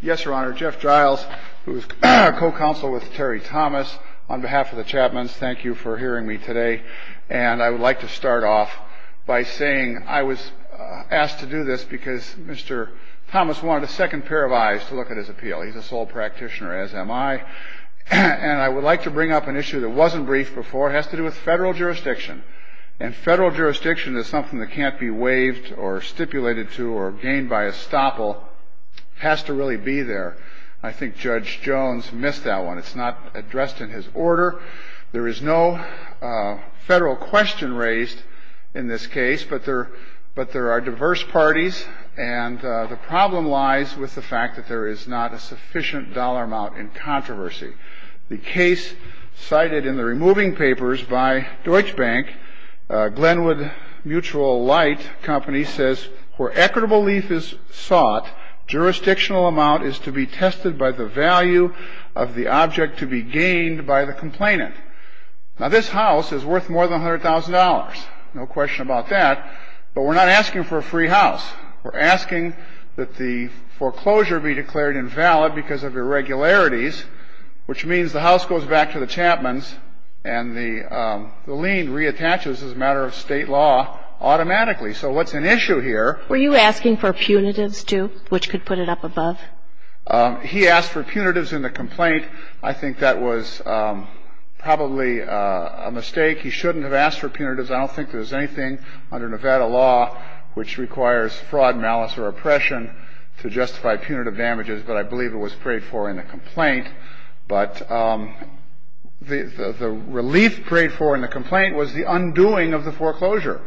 Yes, Your Honor, Jeff Giles, who is co-counsel with Terry Thomas, on behalf of the Chapmans, thank you for hearing me today. And I would like to start off by saying I was asked to do this because Mr. Thomas wanted a second pair of eyes to look at his appeal. He's a sole practitioner, as am I. And I would like to bring up an issue that wasn't briefed before. It has to do with federal jurisdiction. And federal jurisdiction is something that can't be waived or stipulated to or gained by estoppel. It has to really be there. I think Judge Jones missed that one. It's not addressed in his order. There is no federal question raised in this case, but there are diverse parties. And the problem lies with the fact that there is not a sufficient dollar amount in controversy. The case cited in the removing papers by Deutsche Bank, Glenwood Mutual Light Company, says, where equitable leaf is sought, jurisdictional amount is to be tested by the value of the object to be gained by the complainant. Now, this house is worth more than $100,000. No question about that. But we're not asking for a free house. We're asking that the foreclosure be declared invalid because of irregularities, which means the house goes back to the Chapman's and the lien reattaches as a matter of State law automatically. So what's an issue here? Were you asking for punitives, too, which could put it up above? He asked for punitives in the complaint. I think that was probably a mistake. He shouldn't have asked for punitives. I don't think there's anything under Nevada law which requires fraud, malice or oppression to justify punitive damages. But I believe it was prayed for in the complaint. But the relief prayed for in the complaint was the undoing of the foreclosure.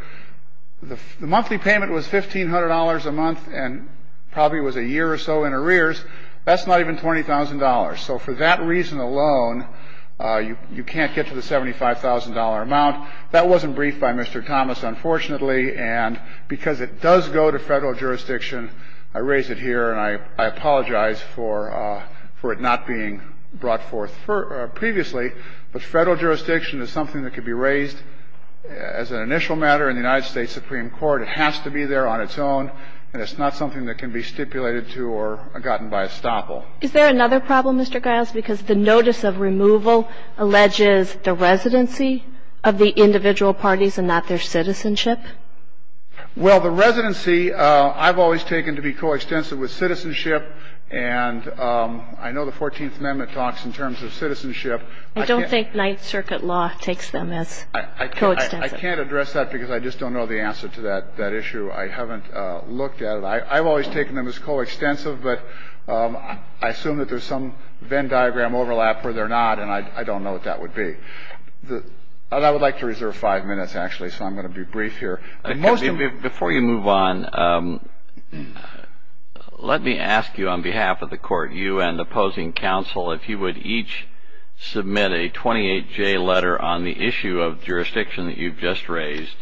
The monthly payment was $1,500 a month and probably was a year or so in arrears. That's not even $20,000. So for that reason alone, you can't get to the $75,000 amount. That wasn't briefed by Mr. Thomas, unfortunately. And because it does go to Federal jurisdiction, I raise it here, and I apologize for it not being brought forth previously. But Federal jurisdiction is something that could be raised as an initial matter in the United States Supreme Court. It has to be there on its own, and it's not something that can be stipulated to or gotten by estoppel. Is there another problem, Mr. Giles, because the notice of removal alleges the residency of the individual parties and not their citizenship? Well, the residency, I've always taken to be coextensive with citizenship. And I know the 14th Amendment talks in terms of citizenship. I don't think Ninth Circuit law takes them as coextensive. I can't address that because I just don't know the answer to that issue. I haven't looked at it. I've always taken them as coextensive, but I assume that there's some Venn diagram overlap where they're not, and I don't know what that would be. I would like to reserve five minutes, actually, so I'm going to be brief here. Before you move on, let me ask you on behalf of the Court, you and opposing counsel, if you would each submit a 28-J letter on the issue of jurisdiction that you've just raised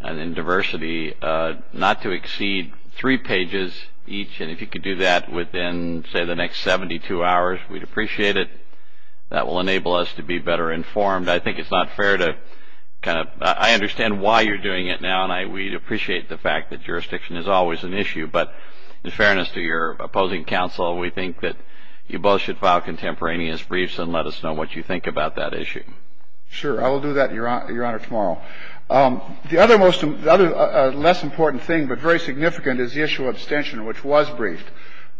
and in diversity, not to exceed three pages each. And if you could do that within, say, the next 72 hours, we'd appreciate it. That will enable us to be better informed. I think it's not fair to kind of – I understand why you're doing it now, and we'd appreciate the fact that jurisdiction is always an issue. But in fairness to your opposing counsel, we think that you both should file contemporaneous briefs and let us know what you think about that issue. Sure. I will do that, Your Honor, tomorrow. The other less important thing, but very significant, is the issue of abstention, which was briefed.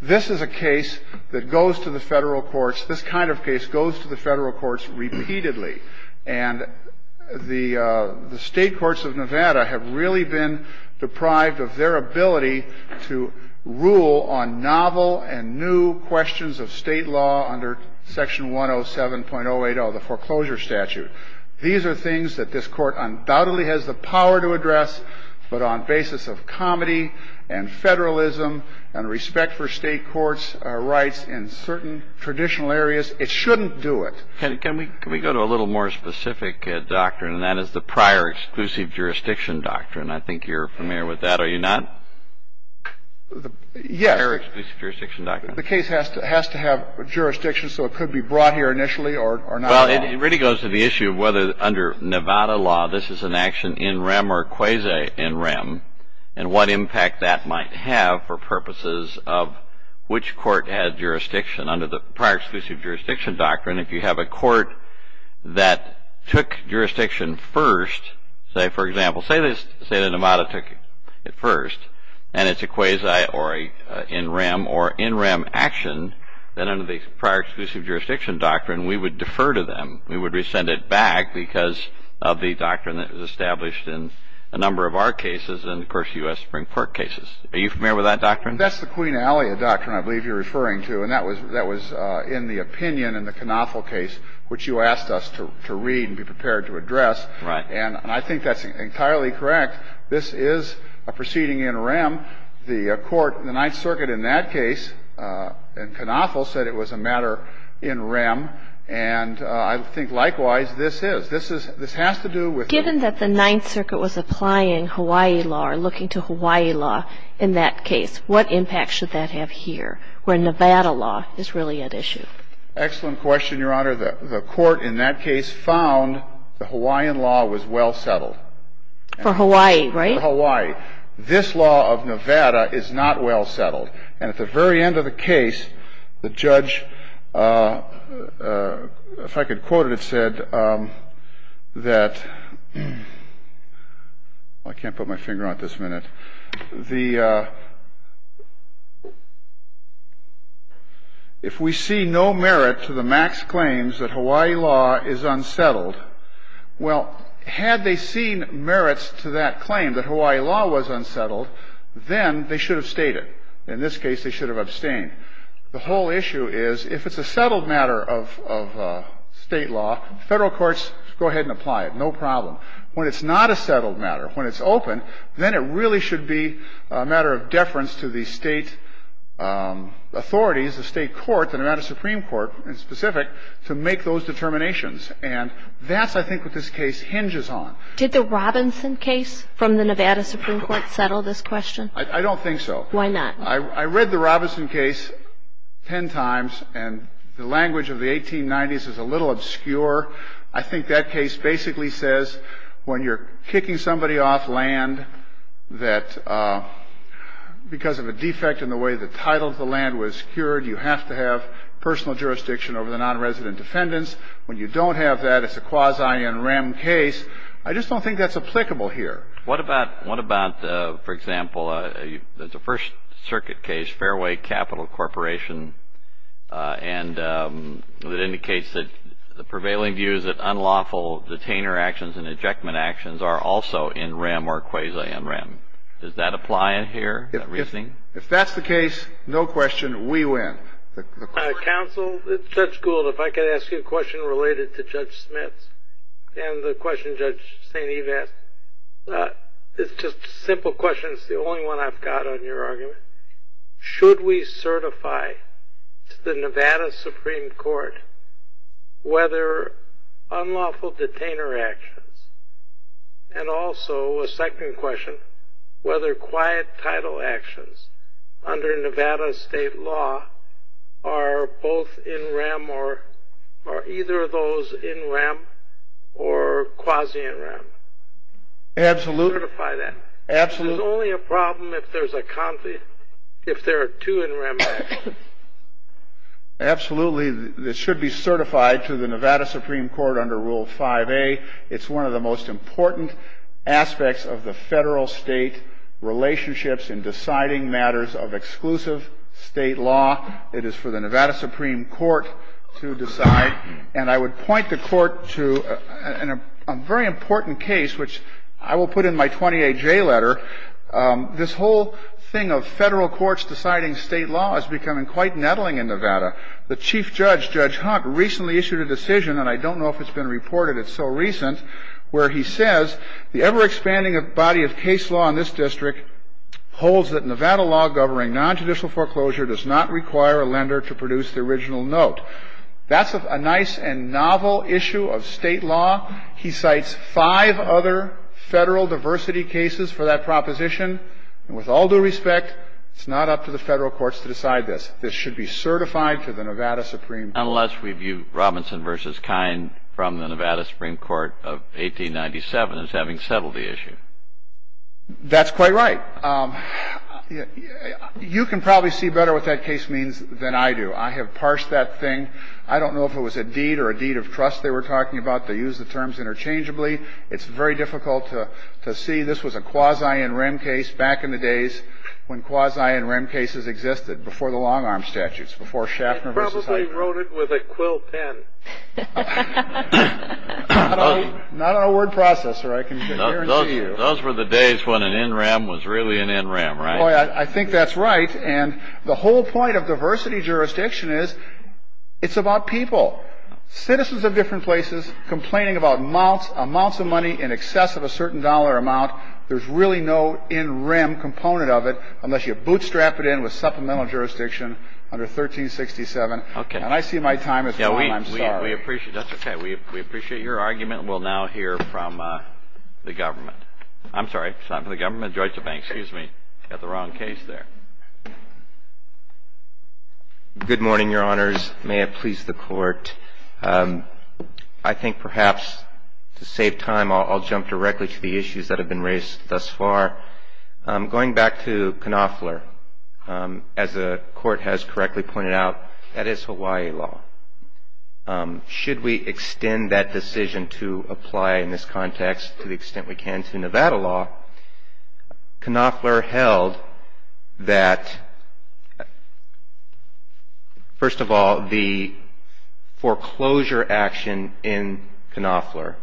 This is a case that goes to the federal courts – this kind of case goes to the federal courts repeatedly. And the state courts of Nevada have really been deprived of their ability to rule on novel and new questions of state law under Section 107.080, the foreclosure statute. These are things that this Court undoubtedly has the power to address, but on basis of comedy and federalism and respect for state courts' rights in certain traditional areas, it shouldn't do it. Can we go to a little more specific doctrine, and that is the prior exclusive jurisdiction doctrine? I think you're familiar with that. Are you not? Yes. Prior exclusive jurisdiction doctrine. The case has to have jurisdiction, so it could be brought here initially or not at all. Well, it really goes to the issue of whether under Nevada law this is an action in rem or quasi in rem and what impact that might have for purposes of which court had jurisdiction. Under the prior exclusive jurisdiction doctrine, if you have a court that took jurisdiction first, say, for example, say that Nevada took it first and it's a quasi or in rem or in rem action, then under the prior exclusive jurisdiction doctrine, we would defer to them. We would rescind it back because of the doctrine that was established in a number of our cases and, of course, U.S. Supreme Court cases. Are you familiar with that doctrine? That's the Queen Alia doctrine I believe you're referring to, and that was in the opinion in the Knothel case, which you asked us to read and be prepared to address. Right. And I think that's entirely correct. This is a proceeding in rem. The court, the Ninth Circuit in that case, in Knothel, said it was a matter in rem, and I think likewise this is. This is — this has to do with — Given that the Ninth Circuit was applying Hawaii law or looking to Hawaii law in that case, what impact should that have here where Nevada law is really at issue? Excellent question, Your Honor. The court in that case found the Hawaiian law was well settled. For Hawaii, right? For Hawaii. This law of Nevada is not well settled. And at the very end of the case, the judge, if I could quote it, it said that — I can't put my finger on it this minute. The — if we see no merit to the Max claims that Hawaii law is unsettled, well, had they seen merits to that claim that Hawaii law was unsettled, then they should have stayed it. In this case, they should have abstained. The whole issue is, if it's a settled matter of State law, Federal courts go ahead and apply it. No problem. When it's not a settled matter, when it's open, then it really should be a matter of deference to the State authorities, the State court, the Nevada Supreme Court in specific, to make those determinations. And that's, I think, what this case hinges on. Did the Robinson case from the Nevada Supreme Court settle this question? I don't think so. Why not? I read the Robinson case ten times, and the language of the 1890s is a little obscure. I think that case basically says, when you're kicking somebody off land that — because of a defect in the way the title of the land was secured, you have to have personal jurisdiction over the nonresident defendants. When you don't have that, it's a quasi-in rem case. I just don't think that's applicable here. What about, for example, the First Circuit case, Fairway Capital Corporation, and it indicates that the prevailing view is that unlawful detainer actions and ejectment actions are also in rem or quasi-in rem. Does that apply here, that reasoning? If that's the case, no question, we win. Counsel, Judge Gould, if I could ask you a question related to Judge Smith and the question Judge St. Eve asked. It's just a simple question. It's the only one I've got on your argument. Should we certify to the Nevada Supreme Court whether unlawful detainer actions, and also a second question, whether quiet title actions under Nevada state law are both in rem or — are either of those in rem or quasi-in rem? Absolutely. Certify that. Absolutely. There's only a problem if there's a — if there are two in rem actions. Absolutely. It should be certified to the Nevada Supreme Court under Rule 5A. It's one of the most important aspects of the federal-state relationships in deciding matters of exclusive state law. It is for the Nevada Supreme Court to decide. And I would point the Court to a very important case, which I will put in my 28J letter. This whole thing of federal courts deciding state law is becoming quite nettling in Nevada. The chief judge, Judge Hunt, recently issued a decision, and I don't know if it's been reported, it's so recent, where he says the ever-expanding body of case law in this district holds that Nevada law governing nontraditional foreclosure does not require a lender to produce the original note. That's a nice and novel issue of state law. He cites five other federal diversity cases for that proposition. And with all due respect, it's not up to the federal courts to decide this. This should be certified to the Nevada Supreme Court. Unless we view Robinson v. Kine from the Nevada Supreme Court of 1897 as having settled the issue. That's quite right. You can probably see better what that case means than I do. I have parsed that thing. I don't know if it was a deed or a deed of trust they were talking about. They use the terms interchangeably. It's very difficult to see. Maybe this was a quasi-in-rem case back in the days when quasi-in-rem cases existed before the long-arm statutes, before Schaffner v. Heitner. They probably wrote it with a quill pen. Not on a word processor. I can guarantee you. Those were the days when an in-rem was really an in-rem, right? I think that's right. And the whole point of diversity jurisdiction is it's about people, citizens of different places, complaining about amounts of money in excess of a certain dollar amount. There's really no in-rem component of it unless you bootstrap it in with supplemental jurisdiction under 1367. Okay. And I see my time has come. I'm sorry. That's okay. We appreciate your argument. We'll now hear from the government. I'm sorry. It's not from the government. Georgia Bank. Excuse me. Got the wrong case there. Good morning, Your Honors. May it please the Court. I think perhaps to save time, I'll jump directly to the issues that have been raised thus far. Going back to Knopfler, as the Court has correctly pointed out, that is Hawaii law. Should we extend that decision to apply in this context to the extent we can to Nevada law, Knopfler held that, first of all, the foreclosure action in Knopfler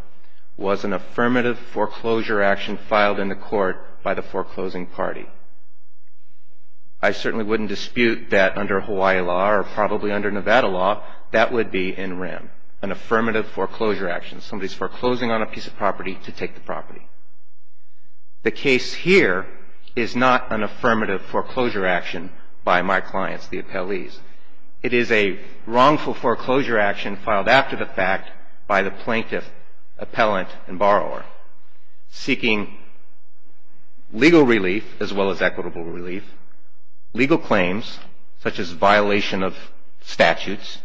was an affirmative foreclosure action filed in the court by the foreclosing party. I certainly wouldn't dispute that under Hawaii law or probably under Nevada law, that would be in-rem, an affirmative foreclosure action. Somebody's foreclosing on a piece of property to take the property. The case here is not an affirmative foreclosure action by my clients, the appellees. It is a wrongful foreclosure action filed after the fact by the plaintiff, appellant, and borrower, seeking legal relief as well as equitable relief, legal claims such as violation of statutes,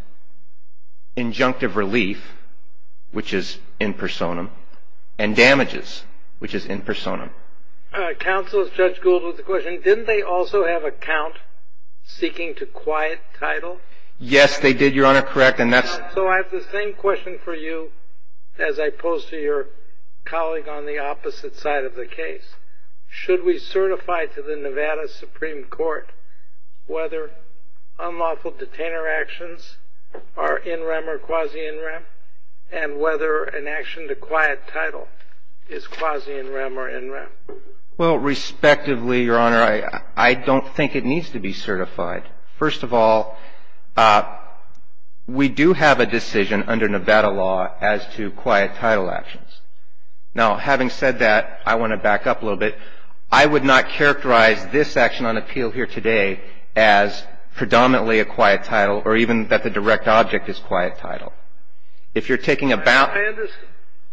injunctive relief, which is in personam, and damages, which is in personam. Counsel, Judge Gould with a question. Didn't they also have a count seeking to quiet title? Yes, they did, Your Honor, correct. So I have the same question for you as I pose to your colleague on the opposite side of the case. Should we certify to the Nevada Supreme Court whether unlawful detainer actions are in-rem or quasi-in-rem and whether an action to quiet title is quasi-in-rem or in-rem? Well, respectively, Your Honor, I don't think it needs to be certified. First of all, we do have a decision under Nevada law as to quiet title actions. Now, having said that, I want to back up a little bit. I would not characterize this action on appeal here today as predominantly a quiet title or even that the direct object is quiet title. If you're taking about ñ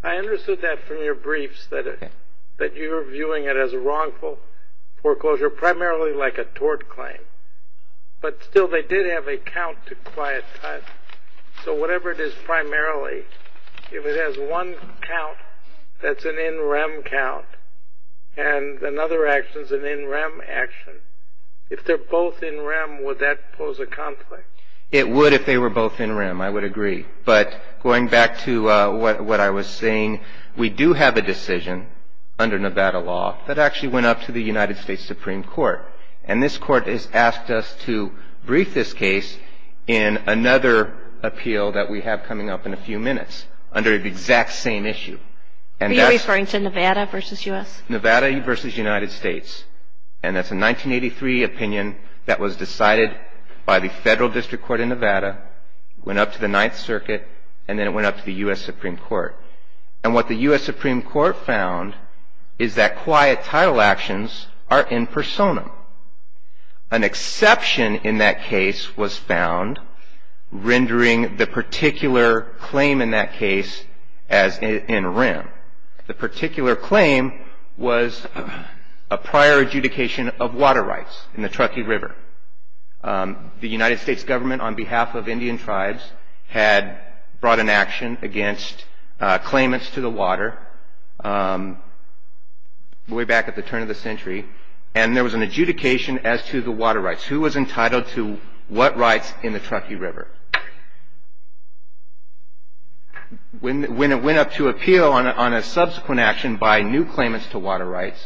I understood that from your briefs, that you're viewing it as a wrongful foreclosure, primarily like a tort claim. But still, they did have a count to quiet title. So whatever it is primarily, if it has one count that's an in-rem count and another action is an in-rem action, if they're both in-rem, would that pose a conflict? It would if they were both in-rem. I would agree. But going back to what I was saying, we do have a decision under Nevada law that actually went up to the United States Supreme Court. And this Court has asked us to brief this case in another appeal that we have coming up in a few minutes under the exact same issue. Are you referring to Nevada versus U.S.? Nevada versus United States. And that's a 1983 opinion that was decided by the Federal District Court in Nevada, went up to the Ninth Circuit, and then it went up to the U.S. Supreme Court. And what the U.S. Supreme Court found is that quiet title actions are in personam. An exception in that case was found, rendering the particular claim in that case as in-rem. The particular claim was a prior adjudication of water rights in the Truckee River. The United States government, on behalf of Indian tribes, had brought an action against claimants to the water way back at the turn of the century. And there was an adjudication as to the water rights. Who was entitled to what rights in the Truckee River? When it went up to appeal on a subsequent action by new claimants to water rights,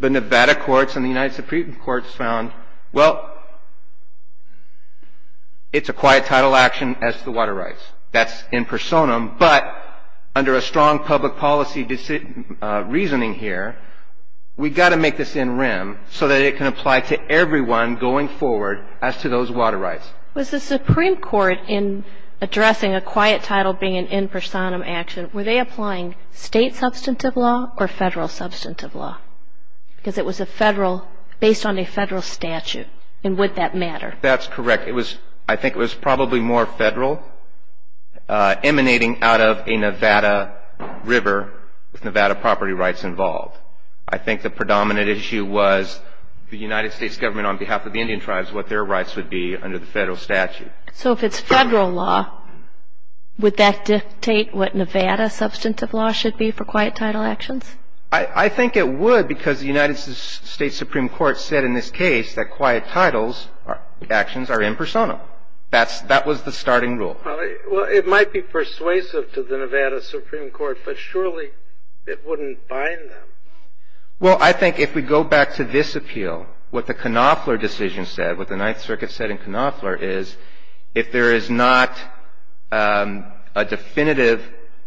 the Nevada courts and the United Supreme Courts found, well, it's a quiet title action as to the water rights. That's in personam. But under a strong public policy reasoning here, we've got to make this in-rem so that it can apply to everyone going forward as to those water rights. Was the Supreme Court, in addressing a quiet title being an in personam action, were they applying state substantive law or federal substantive law? Because it was a federal, based on a federal statute, and would that matter? That's correct. I think it was probably more federal emanating out of a Nevada river with Nevada property rights involved. I think the predominant issue was the United States government, on behalf of the Indian tribes, what their rights would be under the federal statute. So if it's federal law, would that dictate what Nevada substantive law should be for quiet title actions? I think it would because the United States Supreme Court said in this case that quiet title actions are in personam. That was the starting rule. Well, it might be persuasive to the Nevada Supreme Court, but surely it wouldn't bind them. Well, I think if we go back to this appeal, what the Knopfler decision said, what the Ninth Circuit said in Knopfler is if there is not a definitive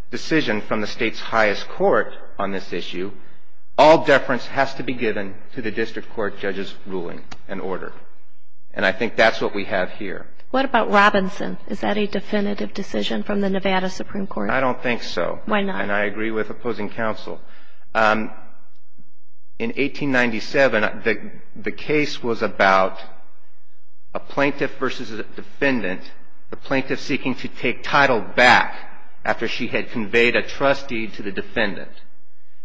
decision from the state's highest court on this issue, all deference has to be given to the district court judge's ruling and order. And I think that's what we have here. What about Robinson? Is that a definitive decision from the Nevada Supreme Court? I don't think so. Why not? And I agree with opposing counsel. In 1897, the case was about a plaintiff versus a defendant, the plaintiff seeking to take title back after she had conveyed a trust deed to the defendant.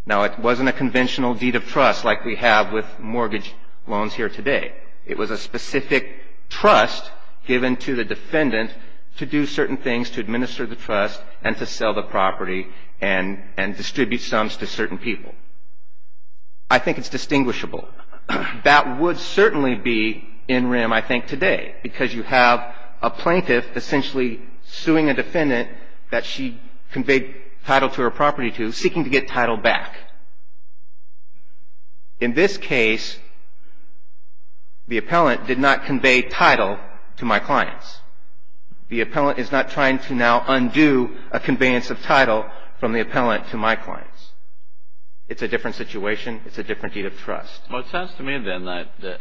Now, it wasn't a conventional deed of trust like we have with mortgage loans here today. It was a specific trust given to the defendant to do certain things, to administer the trust and to sell the property and distribute sums to certain people. I think it's distinguishable. That would certainly be in rim, I think, today, because you have a plaintiff essentially suing a defendant that she conveyed title to her property to, seeking to get title back. In this case, the appellant did not convey title to my clients. The appellant is not trying to now undo a conveyance of title from the appellant to my clients. It's a different situation. It's a different deed of trust. Well, it sounds to me, then, that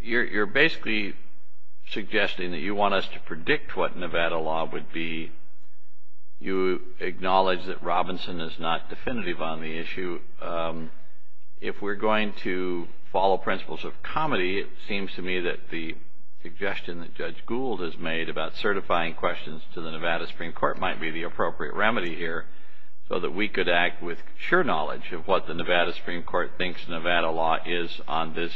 you're basically suggesting that you want us to predict what Nevada law would be. You acknowledge that Robinson is not definitive on the issue. If we're going to follow principles of comedy, it seems to me that the suggestion that Judge Gould has made about certifying questions to the Nevada Supreme Court might be the appropriate remedy here so that we could act with sure knowledge of what the Nevada Supreme Court thinks Nevada law is on this,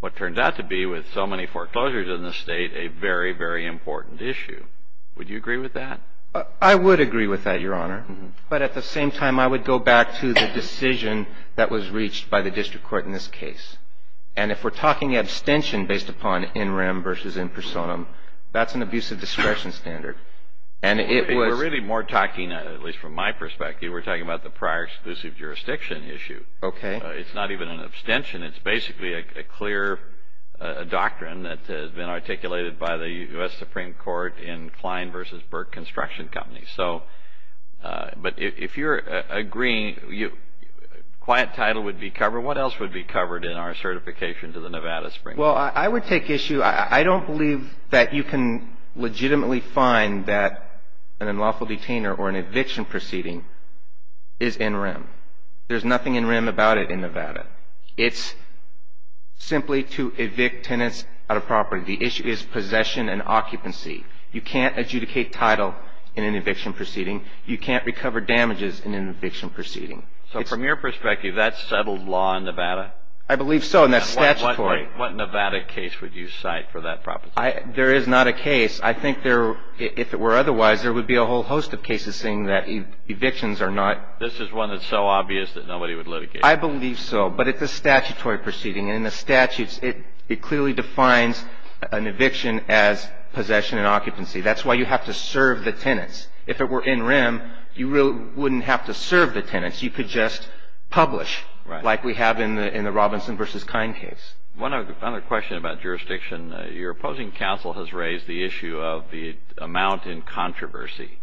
what turned out to be, with so many foreclosures in the state, a very, very important issue. Would you agree with that? I would agree with that, Your Honor. But at the same time, I would go back to the decision that was reached by the district court in this case. And if we're talking abstention based upon in rem versus in personam, that's an abusive discretion standard. We're really more talking, at least from my perspective, we're talking about the prior exclusive jurisdiction issue. Okay. It's not even an abstention. It's basically a clear doctrine that has been articulated by the U.S. Supreme Court in Klein v. Burke Construction Companies. But if you're agreeing, quiet title would be covered, what else would be covered in our certification to the Nevada Supreme Court? Well, I would take issue, I don't believe that you can legitimately find that an unlawful detainer or an eviction proceeding is in rem. There's nothing in rem about it in Nevada. It's simply to evict tenants out of property. The issue is possession and occupancy. You can't adjudicate title in an eviction proceeding. You can't recover damages in an eviction proceeding. So from your perspective, that's settled law in Nevada? I believe so, and that's statutory. What Nevada case would you cite for that proposition? There is not a case. I think there, if it were otherwise, there would be a whole host of cases saying that evictions are not. This is one that's so obvious that nobody would litigate. I believe so. But it's a statutory proceeding. In the statutes, it clearly defines an eviction as possession and occupancy. That's why you have to serve the tenants. If it were in rem, you really wouldn't have to serve the tenants. You could just publish, like we have in the Robinson v. Kine case. One other question about jurisdiction. Your opposing counsel has raised the issue of the amount in controversy.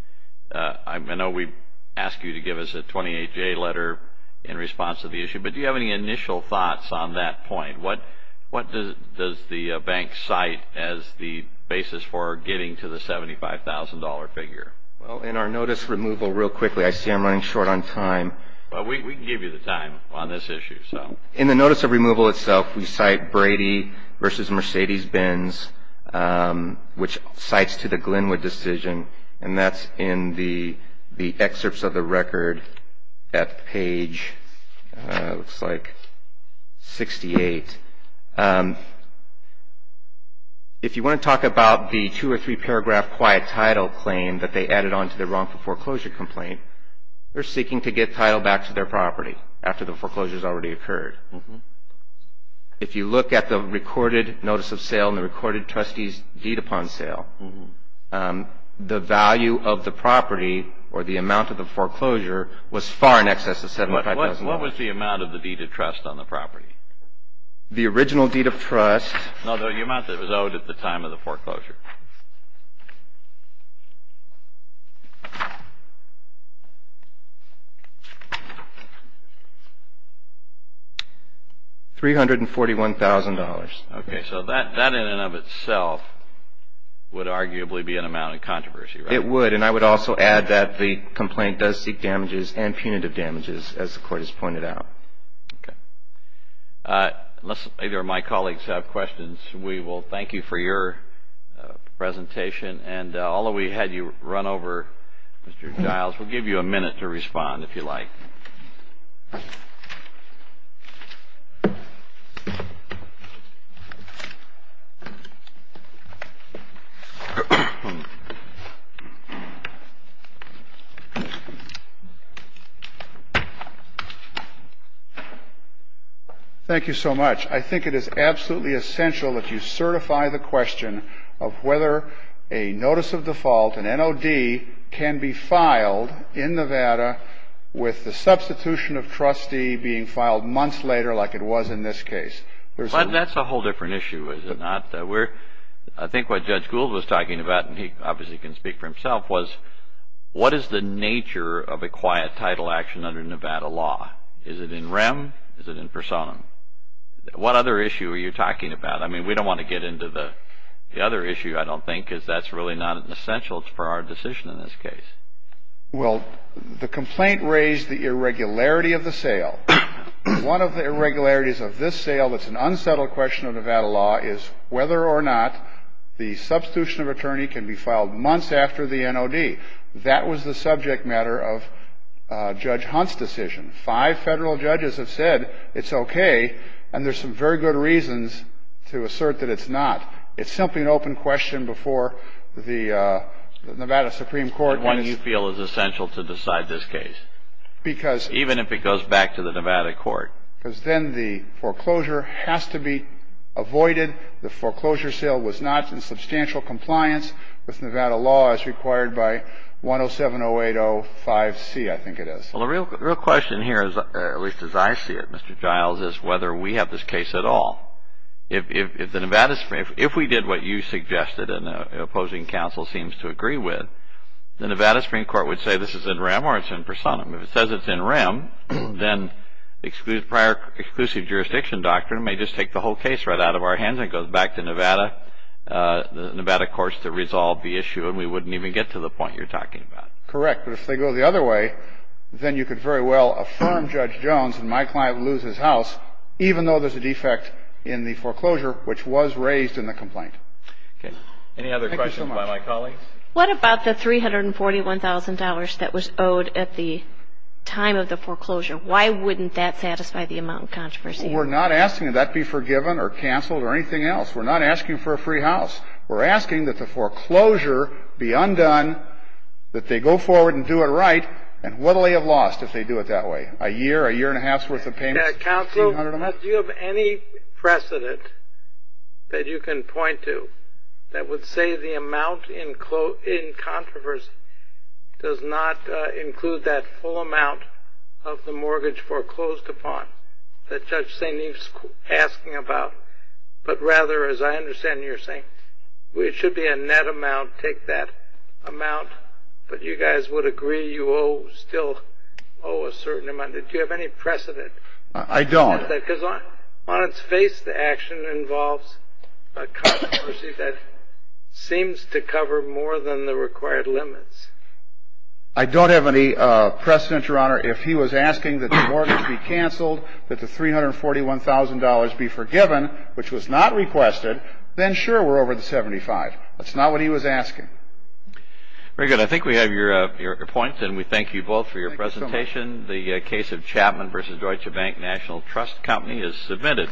I know we asked you to give us a 28-J letter in response to the issue, but do you have any initial thoughts on that point? What does the bank cite as the basis for getting to the $75,000 figure? In our notice removal, real quickly, I see I'm running short on time. We can give you the time on this issue. In the notice of removal itself, we cite Brady v. Mercedes Benz, which cites to the Glenwood decision, and that's in the excerpts of the record at page, looks like, 68. If you want to talk about the two- or three-paragraph quiet title claim that they added onto their wrongful foreclosure complaint, they're seeking to get title back to their property after the foreclosure's already occurred. If you look at the recorded notice of sale and the recorded trustee's deed upon sale, the value of the property or the amount of the foreclosure was far in excess of $75,000. What was the amount of the deed of trust on the property? The original deed of trust. No, the amount that was owed at the time of the foreclosure. $341,000. Okay. So that in and of itself would arguably be an amount of controversy, right? It would, and I would also add that the complaint does seek damages and punitive damages, as the Court has pointed out. Okay. Unless either of my colleagues have questions, we will thank you for your presentation. And although we had you run over, Mr. Giles, we'll give you a minute to respond, if you like. Thank you so much. I think it is absolutely essential that you certify the question of whether a notice of default, an NOD, can be filed in Nevada with the substitution of trustee being filed months later like it was in this case. That's a whole different issue, is it not? I think what Judge Gould was talking about, and he obviously can speak for himself, was what is the nature of a quiet title action under Nevada law? Is it in REM? Is it in personam? What other issue are you talking about? I mean, we don't want to get into the other issue, I don't think, because that's really not essential for our decision in this case. Well, the complaint raised the irregularity of the sale. One of the irregularities of this sale that's an unsettled question of Nevada law is whether or not the substitution of attorney can be filed months after the NOD. That was the subject matter of Judge Hunt's decision. Five federal judges have said it's okay, and there's some very good reasons to assert that it's not. It's simply an open question before the Nevada Supreme Court. Why do you feel it's essential to decide this case, even if it goes back to the Nevada court? Because then the foreclosure has to be avoided. The foreclosure sale was not in substantial compliance with Nevada law as required by 1070805C, I think it is. Well, the real question here, at least as I see it, Mr. Giles, is whether we have this case at all. If we did what you suggested and the opposing counsel seems to agree with, the Nevada Supreme Court would say this is in REM or it's in personam. If it says it's in REM, then prior exclusive jurisdiction doctrine may just take the whole case right out of our hands and go back to Nevada courts to resolve the issue, and we wouldn't even get to the point you're talking about. Correct. But if they go the other way, then you could very well affirm Judge Jones and my client would lose his house, even though there's a defect in the foreclosure which was raised in the complaint. Any other questions by my colleagues? What about the $341,000 that was owed at the time of the foreclosure? Why wouldn't that satisfy the amount of controversy? We're not asking that that be forgiven or canceled or anything else. We're not asking for a free house. We're asking that the foreclosure be undone, that they go forward and do it right, and what will they have lost if they do it that way, a year, a year and a half's worth of payments? Counsel, do you have any precedent that you can point to that would say the amount in controversy does not include that full amount of the mortgage foreclosed upon that Judge St. Eve's asking about, but rather, as I understand you're saying, it should be a net amount, take that amount, but you guys would agree you still owe a certain amount. Do you have any precedent? I don't. On its face, the action involves a controversy that seems to cover more than the required limits. I don't have any precedent, Your Honor. If he was asking that the mortgage be canceled, that the $341,000 be forgiven, which was not requested, then sure, we're over the 75. That's not what he was asking. Very good. I think we have your points, and we thank you both for your presentation. The case of Chapman v. Deutsche Bank National Trust Company is submitted.